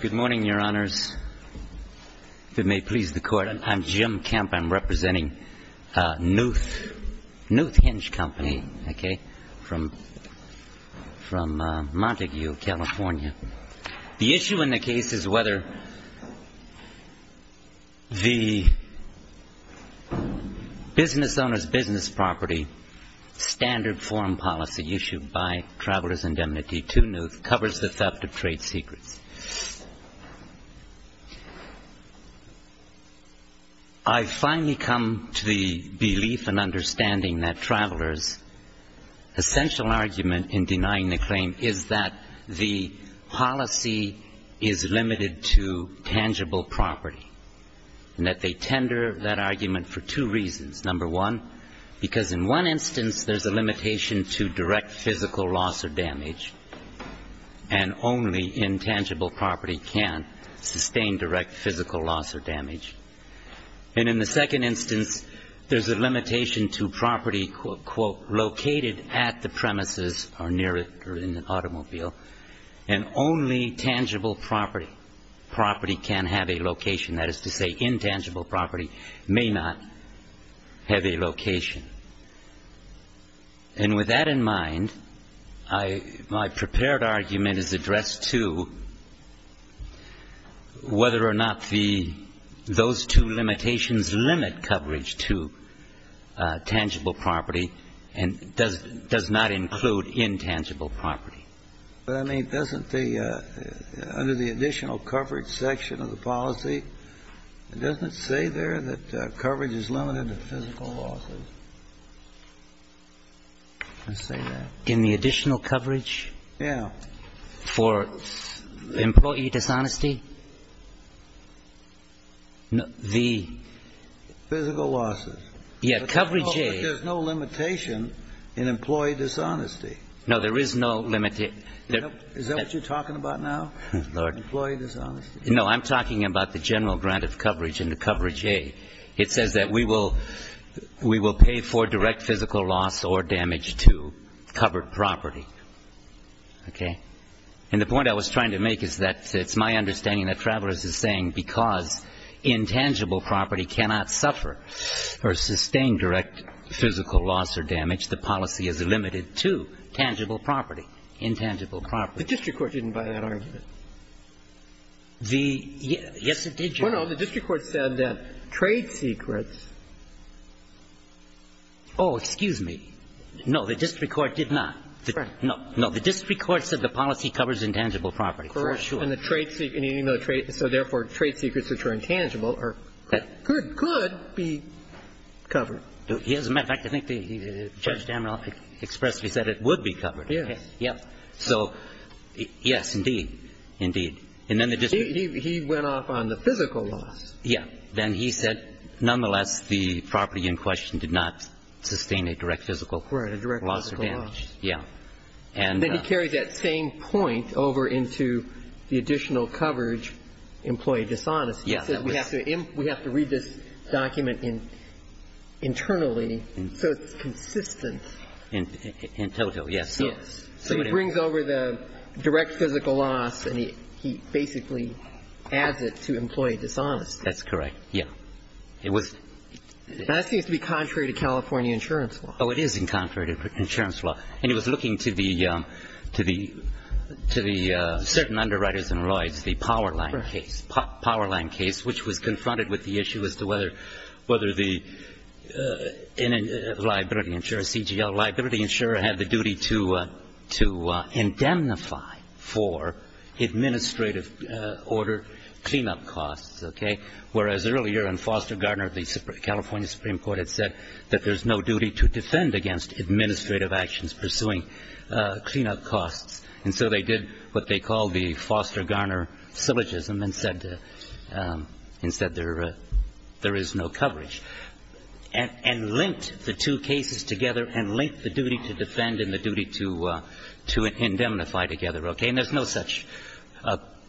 Good morning, Your Honors. If it may please the Court, I'm Jim Kemp. I'm representing Knuth Hinge Company from Montague, California. The issue in the case is whether the business owner's business property standard form policy issued by Travelers Indemnity to Knuth covers the theft of trade secrets. I finally come to the belief and understanding that Travelers' essential argument in denying the claim is that the policy is limited to tangible property, and that they tender that argument for two reasons. Number one, because in one instance, there's a limitation to direct physical loss or damage, and only intangible property can sustain direct physical loss or damage. And in the second instance, there's a limitation to property, quote, quote, located at the premises or near it or in an automobile, and only tangible property property can have a location. That is to say, intangible property may not have a location. And with that in mind, I — my prepared argument is addressed to whether or not the — those two limitations limit coverage to tangible property and does not include intangible property. But, I mean, doesn't the — under the additional coverage section of the policy, doesn't it say there that coverage is limited to physical losses? Let's say that. In the additional coverage? Yeah. For employee dishonesty? The — Physical losses. Yeah. Coverage A — But there's no limitation in employee dishonesty. No, there is no — Is that what you're talking about now? Lord. Employee dishonesty. No, I'm talking about the general grant of coverage in the coverage A. It says that we will — we will pay for direct physical loss or damage to covered property, okay? And the point I was trying to make is that it's my understanding that Travers is saying because intangible property cannot suffer or sustain direct physical loss or damage, the policy is limited to tangible property, intangible property. The district court didn't buy that argument. The — yes, it did, Your Honor. No, no. The district court said that trade secrets — Oh, excuse me. No, the district court did not. No. No. The district court said the policy covers intangible property. Correct. For sure. And the trade secret — so therefore, trade secrets which are intangible are — could be covered. As a matter of fact, I think Judge Dameron expressly said it would be covered. Yes. Yes. So, yes, indeed. Indeed. And then the district — He went off on the physical loss. Yes. Then he said nonetheless the property in question did not sustain a direct physical loss or damage. Right, a direct physical loss. Yes. And then he carries that same point over into the additional coverage, employee dishonesty. He says we have to read this document internally so it's consistent. In total, yes. So he brings over the direct physical loss and he basically adds it to employee dishonesty. That's correct, yes. It was — Now, that seems to be contrary to California insurance law. Oh, it is in contrary to insurance law. And he was looking to the — to the — to the certain underwriters and lawyers, the Powerline case. Right. Powerline case, which was confronted with the issue as to whether the liability insurer, CGL liability insurer, had the duty to — to indemnify for administrative order clean-up costs, okay, whereas earlier in Foster Garner, the California Supreme Court had said that there's no duty to defend against administrative actions pursuing clean-up costs. And so they did what they called the Foster Garner syllogism and said — and said there is no coverage. And linked the two cases together and linked the duty to defend and the duty to — to indemnify together, okay. And there's no such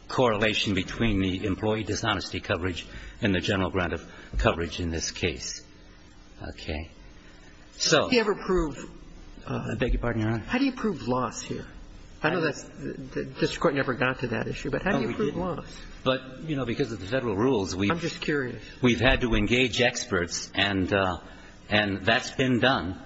correlation between the employee dishonesty coverage and the general grant of coverage in this case. Okay. So — Did he ever prove — I beg your pardon, Your Honor. How do you prove loss here? I know that's — the district court never got to that issue, but how do you prove loss? Oh, we didn't. But, you know, because of the Federal rules, we've — I'm just curious. We've had to engage experts, and — and that's been done.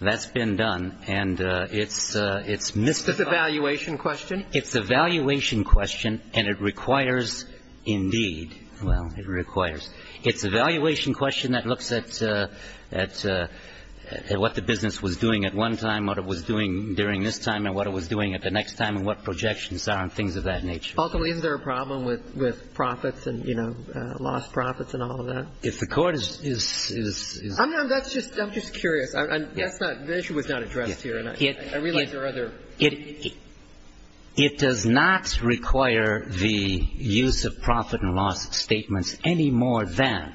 That's been done. And it's — it's mystified. It's a valuation question? It's a valuation question, and it requires, indeed — well, it requires. It's a valuation question that looks at — at what the business was doing at one time, what it was doing during this time, and what it was doing at the next time and what projections are and things of that nature. Ultimately, is there a problem with — with profits and, you know, lost profits and all of that? If the court is — is — I'm — that's just — I'm just curious. That's not — the issue was not addressed here, and I realize there are other — It — it does not require the use of profit and loss statements any more than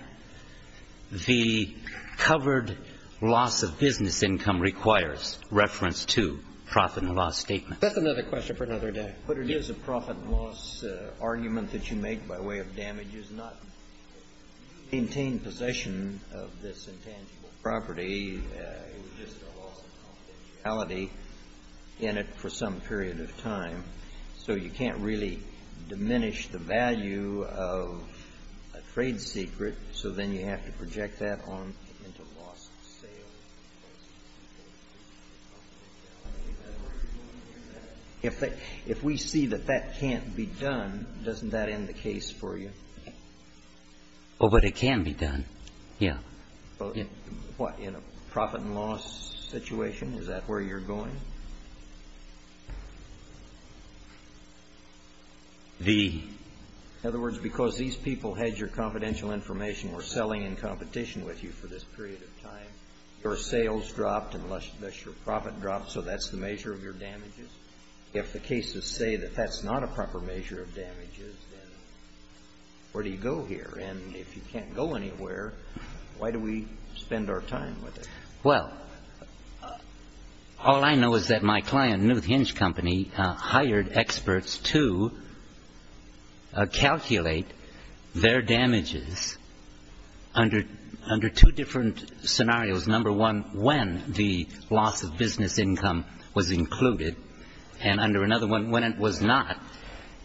the covered loss of business income requires reference to profit and loss statements. That's another question for another day. But it is a profit-loss argument that you make by way of damages, not to maintain possession of this intangible property. It was just a loss of confidentiality in it for some period of time. So you can't really diminish the value of a trade secret, so then you have to project that on into loss of sales. If we see that that can't be done, doesn't that end the case for you? Oh, but it can be done. Yeah. In a profit and loss situation, is that where you're going? The — In other words, because these people had your confidential information, were selling in unless your profit dropped, so that's the measure of your damages? If the cases say that that's not a proper measure of damages, then where do you go here? And if you can't go anywhere, why do we spend our time with it? Well, all I know is that my client, Newthinge Company, hired experts to calculate their damages under two different scenarios. Number one, when the loss of business income was included, and under another one, when it was not.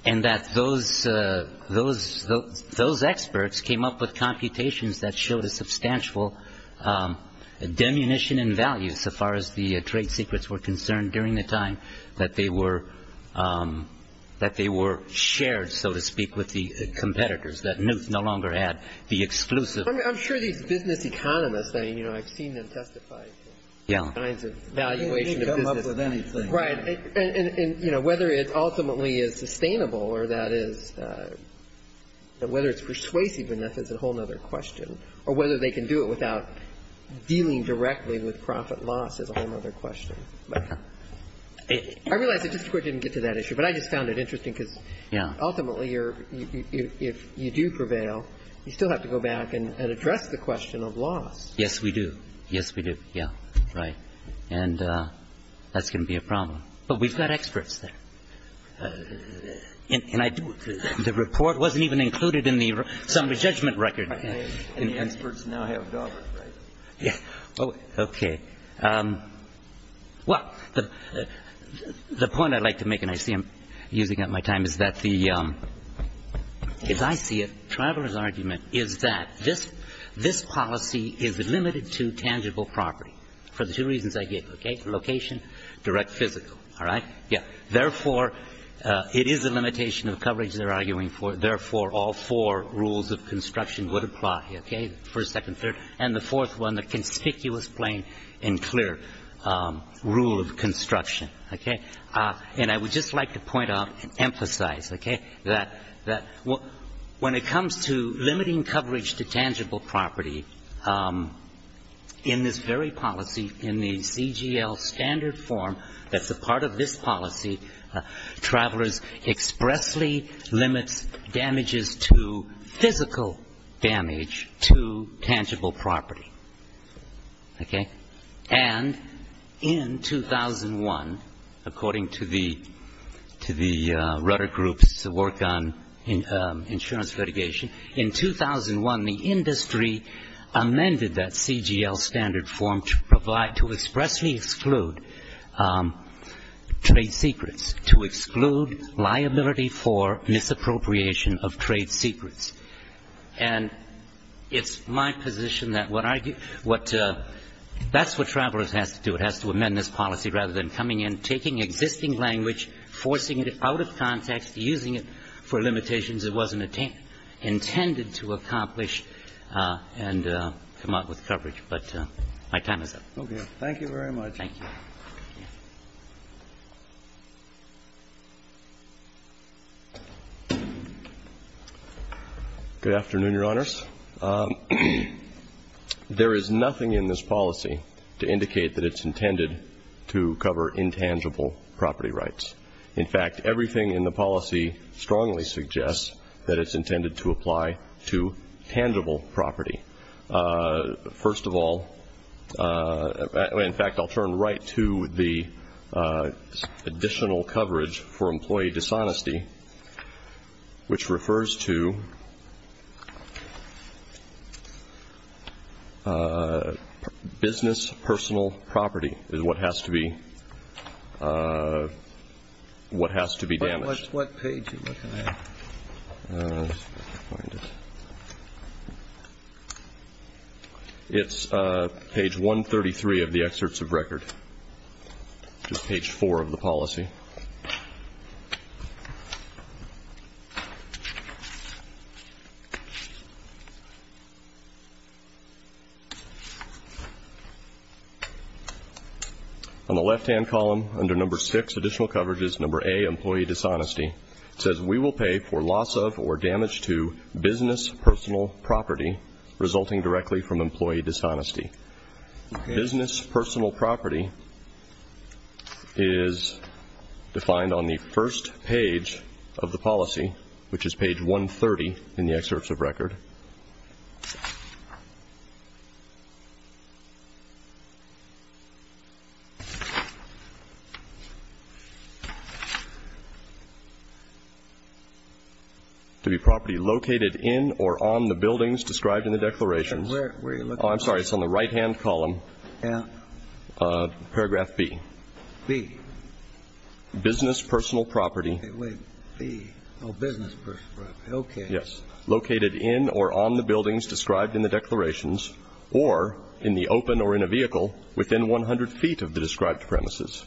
And that those experts came up with computations that showed a substantial diminution in value so far as the trade secrets were concerned during the time that they were shared, so to speak, with the competitors, that Newth no longer had the exclusive — I'm sure these business economists, I mean, you know, I've seen them testify to — Yeah. — kinds of valuation of business — You can come up with anything. Right. And, you know, whether it ultimately is sustainable or that is — whether it's persuasive enough is a whole other question, or whether they can do it without dealing directly with profit loss is a whole other question. But I realize that Justice Breyer didn't get to that issue, but I just found it interesting because — Yeah. Ultimately, if you do prevail, you still have to go back and address the question of loss. Yes, we do. Yes, we do. Yeah. Right. And that's going to be a problem. But we've got experts there. And the report wasn't even included in the summary judgment record. And the experts now have dollars, right? Yeah. Okay. Well, the point I'd like to make, and I see I'm using up my time, is that the — as I see it, travelers' argument is that this policy is limited to tangible property for the two reasons I gave, okay? Location, direct physical. All right? Yeah. Therefore, it is a limitation of coverage they're arguing for. Therefore, all four rules of construction would apply, okay? First, second, third. And the fourth one, the conspicuous, plain, and clear rule of construction, okay? And I would just like to point out and emphasize, okay, that when it comes to limiting coverage to tangible property, in this very policy, in the CGL standard form that's a part of this policy, travelers expressly limit damages to physical damage to tangible property, okay? And in 2001, according to the Rutter Group's work on insurance litigation, in 2001, the industry amended that CGL standard form to expressly exclude trade secrets, to exclude liability for misappropriation of trade secrets. And it's my position that what I — that's what travelers has to do. It has to amend this policy rather than coming in, taking existing language, forcing it out of context, using it for limitations it wasn't intended to accomplish and come up with coverage. But my time is up. Okay. Thank you very much. Thank you. Good afternoon, Your Honors. There is nothing in this policy to indicate that it's intended to cover intangible property rights. In fact, everything in the policy strongly suggests that it's intended to apply to tangible property. First of all, in fact, I'll turn right to the additional coverage for employee dishonesty, which refers to business personal property is what has to be — what has to be damaged. What page are you looking at? It's page 133 of the excerpts of record, which is page 4 of the policy. On the left-hand column, under number 6, additional coverage is number A, employee dishonesty. It says, we will pay for loss of or damage to business personal property resulting directly from employee dishonesty. Business personal property is defined on the first page of the policy, which is page 130 in the excerpts of record. To be property located in or on the buildings described in the declarations — Right-hand column. Yeah. Paragraph B. B. Business personal property. Wait. B. Oh, business personal property. Okay. Yes. Located in or on the buildings described in the declarations or in the open or in a vehicle within 100 feet of the described premises.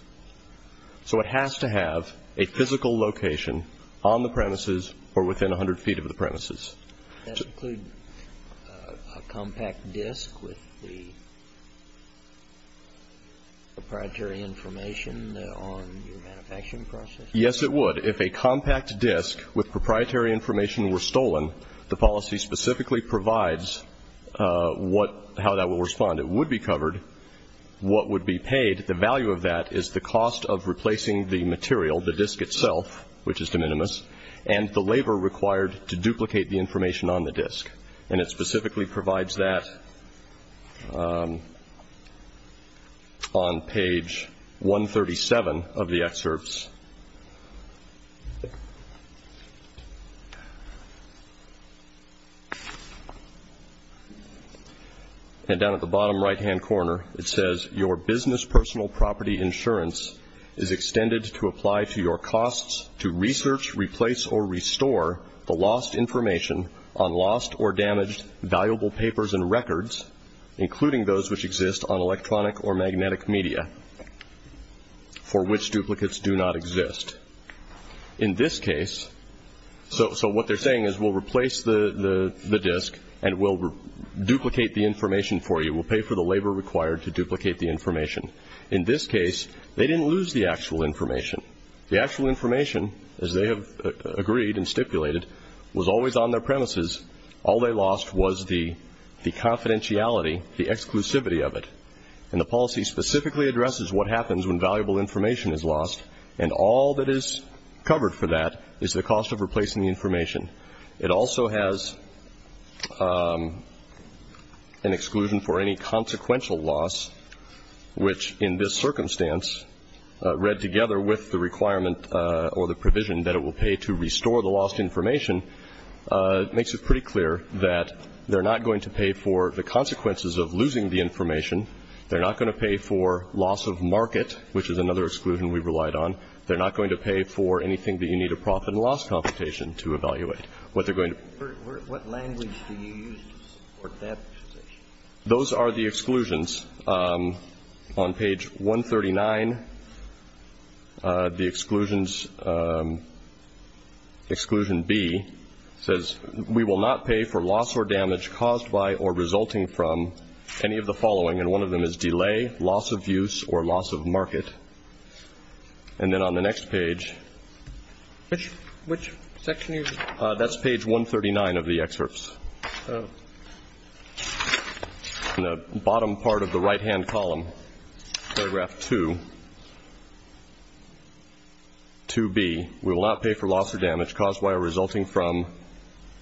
So it has to have a physical location on the premises or within 100 feet of the premises. Does that include a compact disk with the proprietary information on your manufacturing process? Yes, it would. If a compact disk with proprietary information were stolen, the policy specifically provides what — how that will respond. It would be covered what would be paid. The value of that is the cost of replacing the material, the disk itself, which is de minimis, and the labor required to duplicate the information on the disk. And it specifically provides that on page 137 of the excerpts. And down at the bottom right-hand corner it says, your business personal property insurance is extended to apply to your costs to research, replace, or restore the lost information on lost or damaged valuable papers and records, including those which exist on electronic or magnetic media, for which duplicates do not exist. In this case — so what they're saying is we'll replace the disk and we'll duplicate the information for you. We'll pay for the labor required to duplicate the information. In this case, they didn't lose the actual information. The actual information, as they have agreed and stipulated, was always on their premises. All they lost was the confidentiality, the exclusivity of it. And the policy specifically addresses what happens when valuable information is lost, and all that is covered for that is the cost of replacing the information. It also has an exclusion for any consequential loss, which in this circumstance read together with the requirement or the provision that it will pay to restore the lost information, makes it pretty clear that they're not going to pay for the consequences of losing the information. They're not going to pay for loss of market, which is another exclusion we relied on. They're not going to pay for anything that you need a profit and loss computation to evaluate. What they're going to — What language do you use to support that position? Those are the exclusions. On page 139, the exclusions — exclusion B says, we will not pay for loss or damage caused by or resulting from any of the following, and one of them is delay, loss of use, or loss of market. And then on the next page — Which section are you — That's page 139 of the excerpts. Oh. In the bottom part of the right-hand column, paragraph 2, 2B, we will not pay for loss or damage caused by or resulting from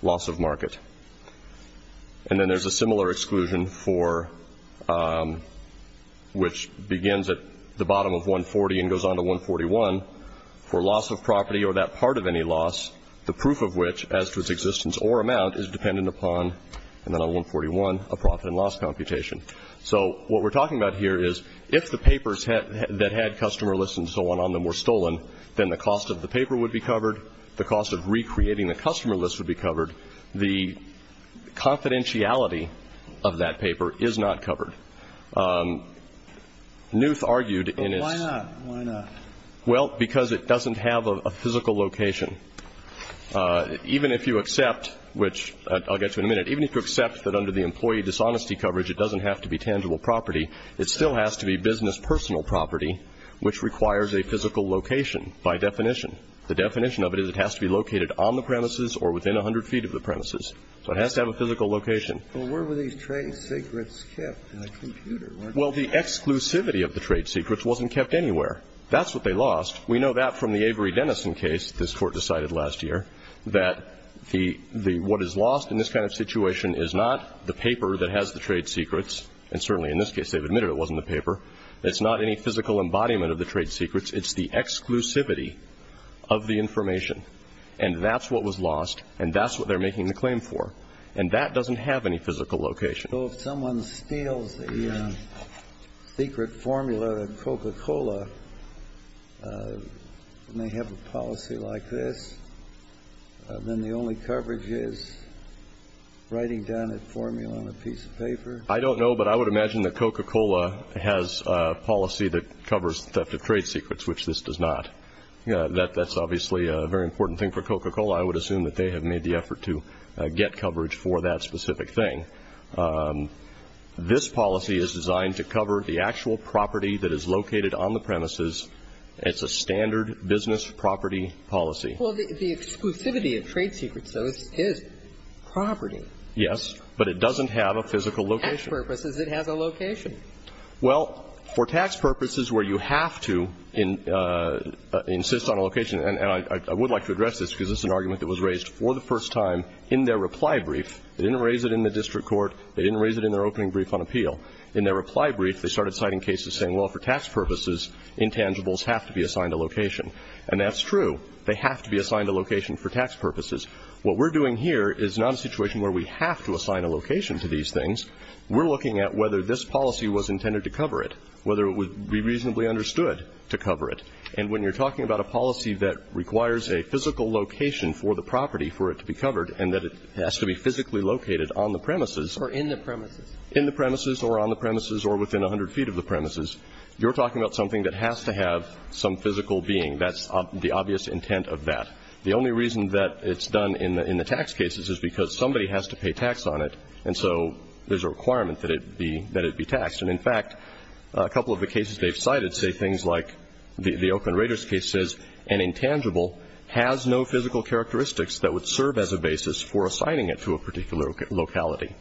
loss of market. And then there's a similar exclusion for — which begins at the bottom of 140 and goes on to 141, for loss of property or that part of any loss, the proof of which, as to its existence or amount, is dependent upon — and then on 141, a profit and loss computation. So what we're talking about here is, if the papers that had customer lists and so on on them were stolen, then the cost of the paper would be covered, the cost of recreating the customer list would be covered, the confidentiality of that paper is not covered. Newth argued in its — But why not? Why not? Well, because it doesn't have a physical location. Even if you accept — which I'll get to in a minute — even if you accept that under the employee dishonesty coverage it doesn't have to be tangible property, it still has to be business personal property, which requires a physical location by definition. The definition of it is it has to be located on the premises or within 100 feet of the premises. So it has to have a physical location. But where were these trade secrets kept? In a computer. Well, the exclusivity of the trade secrets wasn't kept anywhere. That's what they lost. We know that from the Avery-Denison case this Court decided last year, that the — what is lost in this kind of situation is not the paper that has the trade secrets, and certainly in this case they've admitted it wasn't the paper. It's not any physical embodiment of the trade secrets. It's the exclusivity of the information. And that's what was lost, and that's what they're making the claim for. And that doesn't have any physical location. So if someone steals the secret formula of Coca-Cola and they have a policy like this, then the only coverage is writing down a formula on a piece of paper? I don't know, but I would imagine that Coca-Cola has a policy that covers theft of trade secrets, which this does not. That's obviously a very important thing for Coca-Cola. I would assume that they have made the effort to get coverage for that specific thing. This policy is designed to cover the actual property that is located on the premises. It's a standard business property policy. Well, the exclusivity of trade secrets, though, is property. Yes, but it doesn't have a physical location. For tax purposes, it has a location. Well, for tax purposes where you have to insist on a location, and I would like to address this because it's an argument that was raised for the first time in their reply brief. They didn't raise it in the district court. They didn't raise it in their opening brief on appeal. In their reply brief, they started citing cases saying, well, for tax purposes, intangibles have to be assigned a location. And that's true. They have to be assigned a location for tax purposes. What we're doing here is not a situation where we have to assign a location to these things. We're looking at whether this policy was intended to cover it, whether it would be reasonably understood to cover it. And when you're talking about a policy that requires a physical location for the property for it to be covered and that it has to be physically located on the premises. Or in the premises. In the premises or on the premises or within 100 feet of the premises. You're talking about something that has to have some physical being. That's the obvious intent of that. The only reason that it's done in the tax cases is because somebody has to pay tax on it. And so there's a requirement that it be taxed. And, in fact, a couple of the cases they've cited say things like the Oakland Raiders case says an intangible has no physical characteristics that would serve as a basis for assigning it to a particular locality.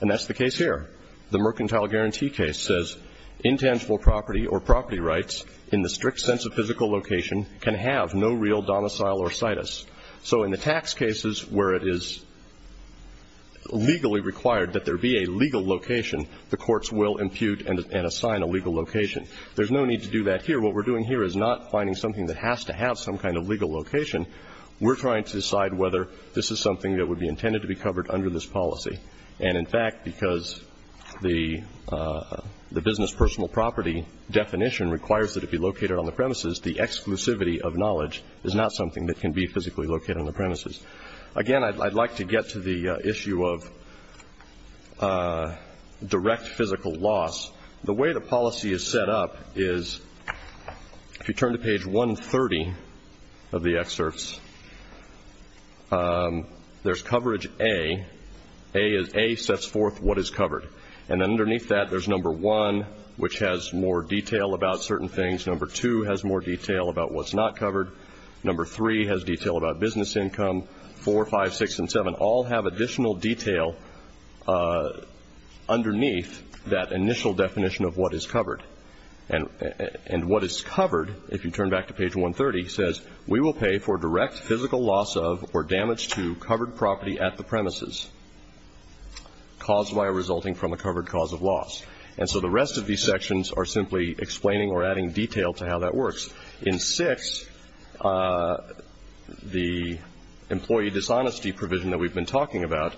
And that's the case here. The mercantile guarantee case says intangible property or property rights in the strict sense of physical location can have no real domicile or situs. So in the tax cases where it is legally required that there be a legal location, the courts will impute and assign a legal location. There's no need to do that here. What we're doing here is not finding something that has to have some kind of legal location. We're trying to decide whether this is something that would be intended to be covered under this policy. And, in fact, because the business personal property definition requires that it be located on the premises, the exclusivity of knowledge is not something that can be physically located on the premises. Again, I'd like to get to the issue of direct physical loss. The way the policy is set up is if you turn to page 130 of the excerpts, there's coverage A. A sets forth what is covered. And then underneath that there's number 1, which has more detail about certain things. Number 2 has more detail about what's not covered. Number 3 has detail about business income. 4, 5, 6, and 7 all have additional detail underneath that initial definition of what is covered. And what is covered, if you turn back to page 130, says, we will pay for direct physical loss of or damage to covered property at the premises caused by or resulting from a covered cause of loss. And so the rest of these sections are simply explaining or adding detail to how that works. In 6, the employee dishonesty provision that we've been talking about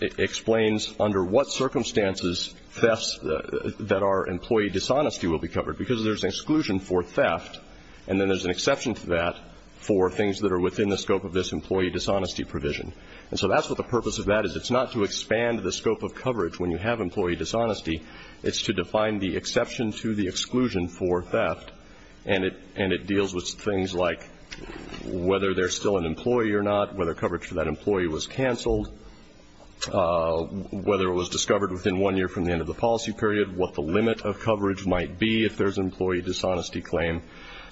explains under what circumstances thefts that are employee dishonesty will be covered, because there's exclusion for theft, and then there's an exception to that for things that are within the scope of this employee dishonesty provision. And so that's what the purpose of that is. It's not to expand the scope of coverage when you have employee dishonesty. It's to define the exception to the exclusion for theft. And it deals with things like whether there's still an employee or not, whether coverage for that employee was canceled, whether it was discovered within one year from the end of the policy period, what the limit of coverage might be if there's employee dishonesty claim.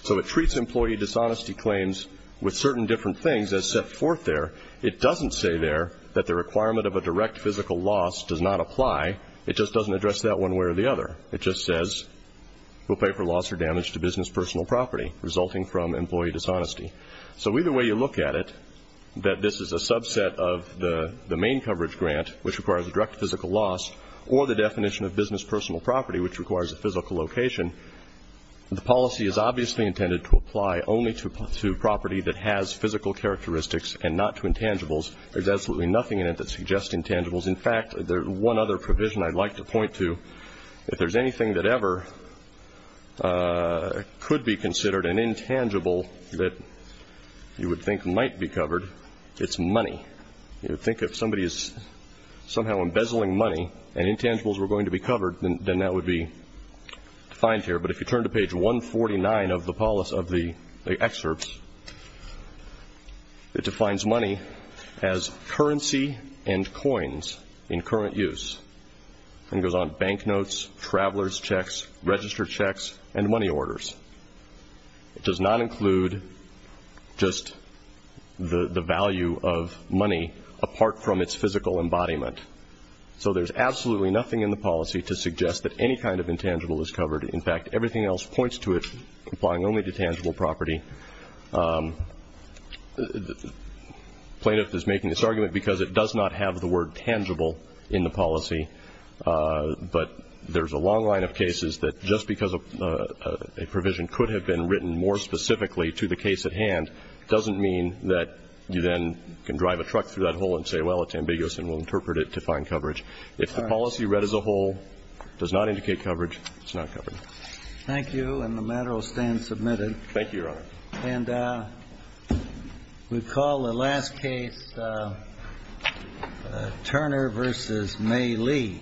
So it treats employee dishonesty claims with certain different things as set forth there. It doesn't say there that the requirement of a direct physical loss does not apply. It just doesn't address that one way or the other. It just says we'll pay for loss or damage to business personal property resulting from employee dishonesty. So either way you look at it, that this is a subset of the main coverage grant, which requires a direct physical loss, or the definition of business personal property, which requires a physical location, the policy is obviously intended to apply only to property that has physical characteristics and not to intangibles. There's absolutely nothing in it that suggests intangibles. In fact, there's one other provision I'd like to point to. If there's anything that ever could be considered an intangible that you would think might be covered, it's money. You would think if somebody is somehow embezzling money and intangibles were going to be covered, then that would be defined here. But if you turn to page 149 of the excerpts, it defines money as currency and coins in current use. And it goes on bank notes, traveler's checks, register checks, and money orders. It does not include just the value of money apart from its physical embodiment. So there's absolutely nothing in the policy to suggest that any kind of intangible is covered. In fact, everything else points to it applying only to tangible property. The plaintiff is making this argument because it does not have the word tangible in the policy, but there's a long line of cases that just because a provision could have been written more specifically to the case at hand doesn't mean that you then can drive a truck through that hole and say, well, it's ambiguous, and we'll interpret it to find coverage. If the policy read as a whole does not indicate coverage, it's not covered. Thank you. And the matter will stand submitted. Thank you, Your Honor. And we call the last case Turner v. May Lee.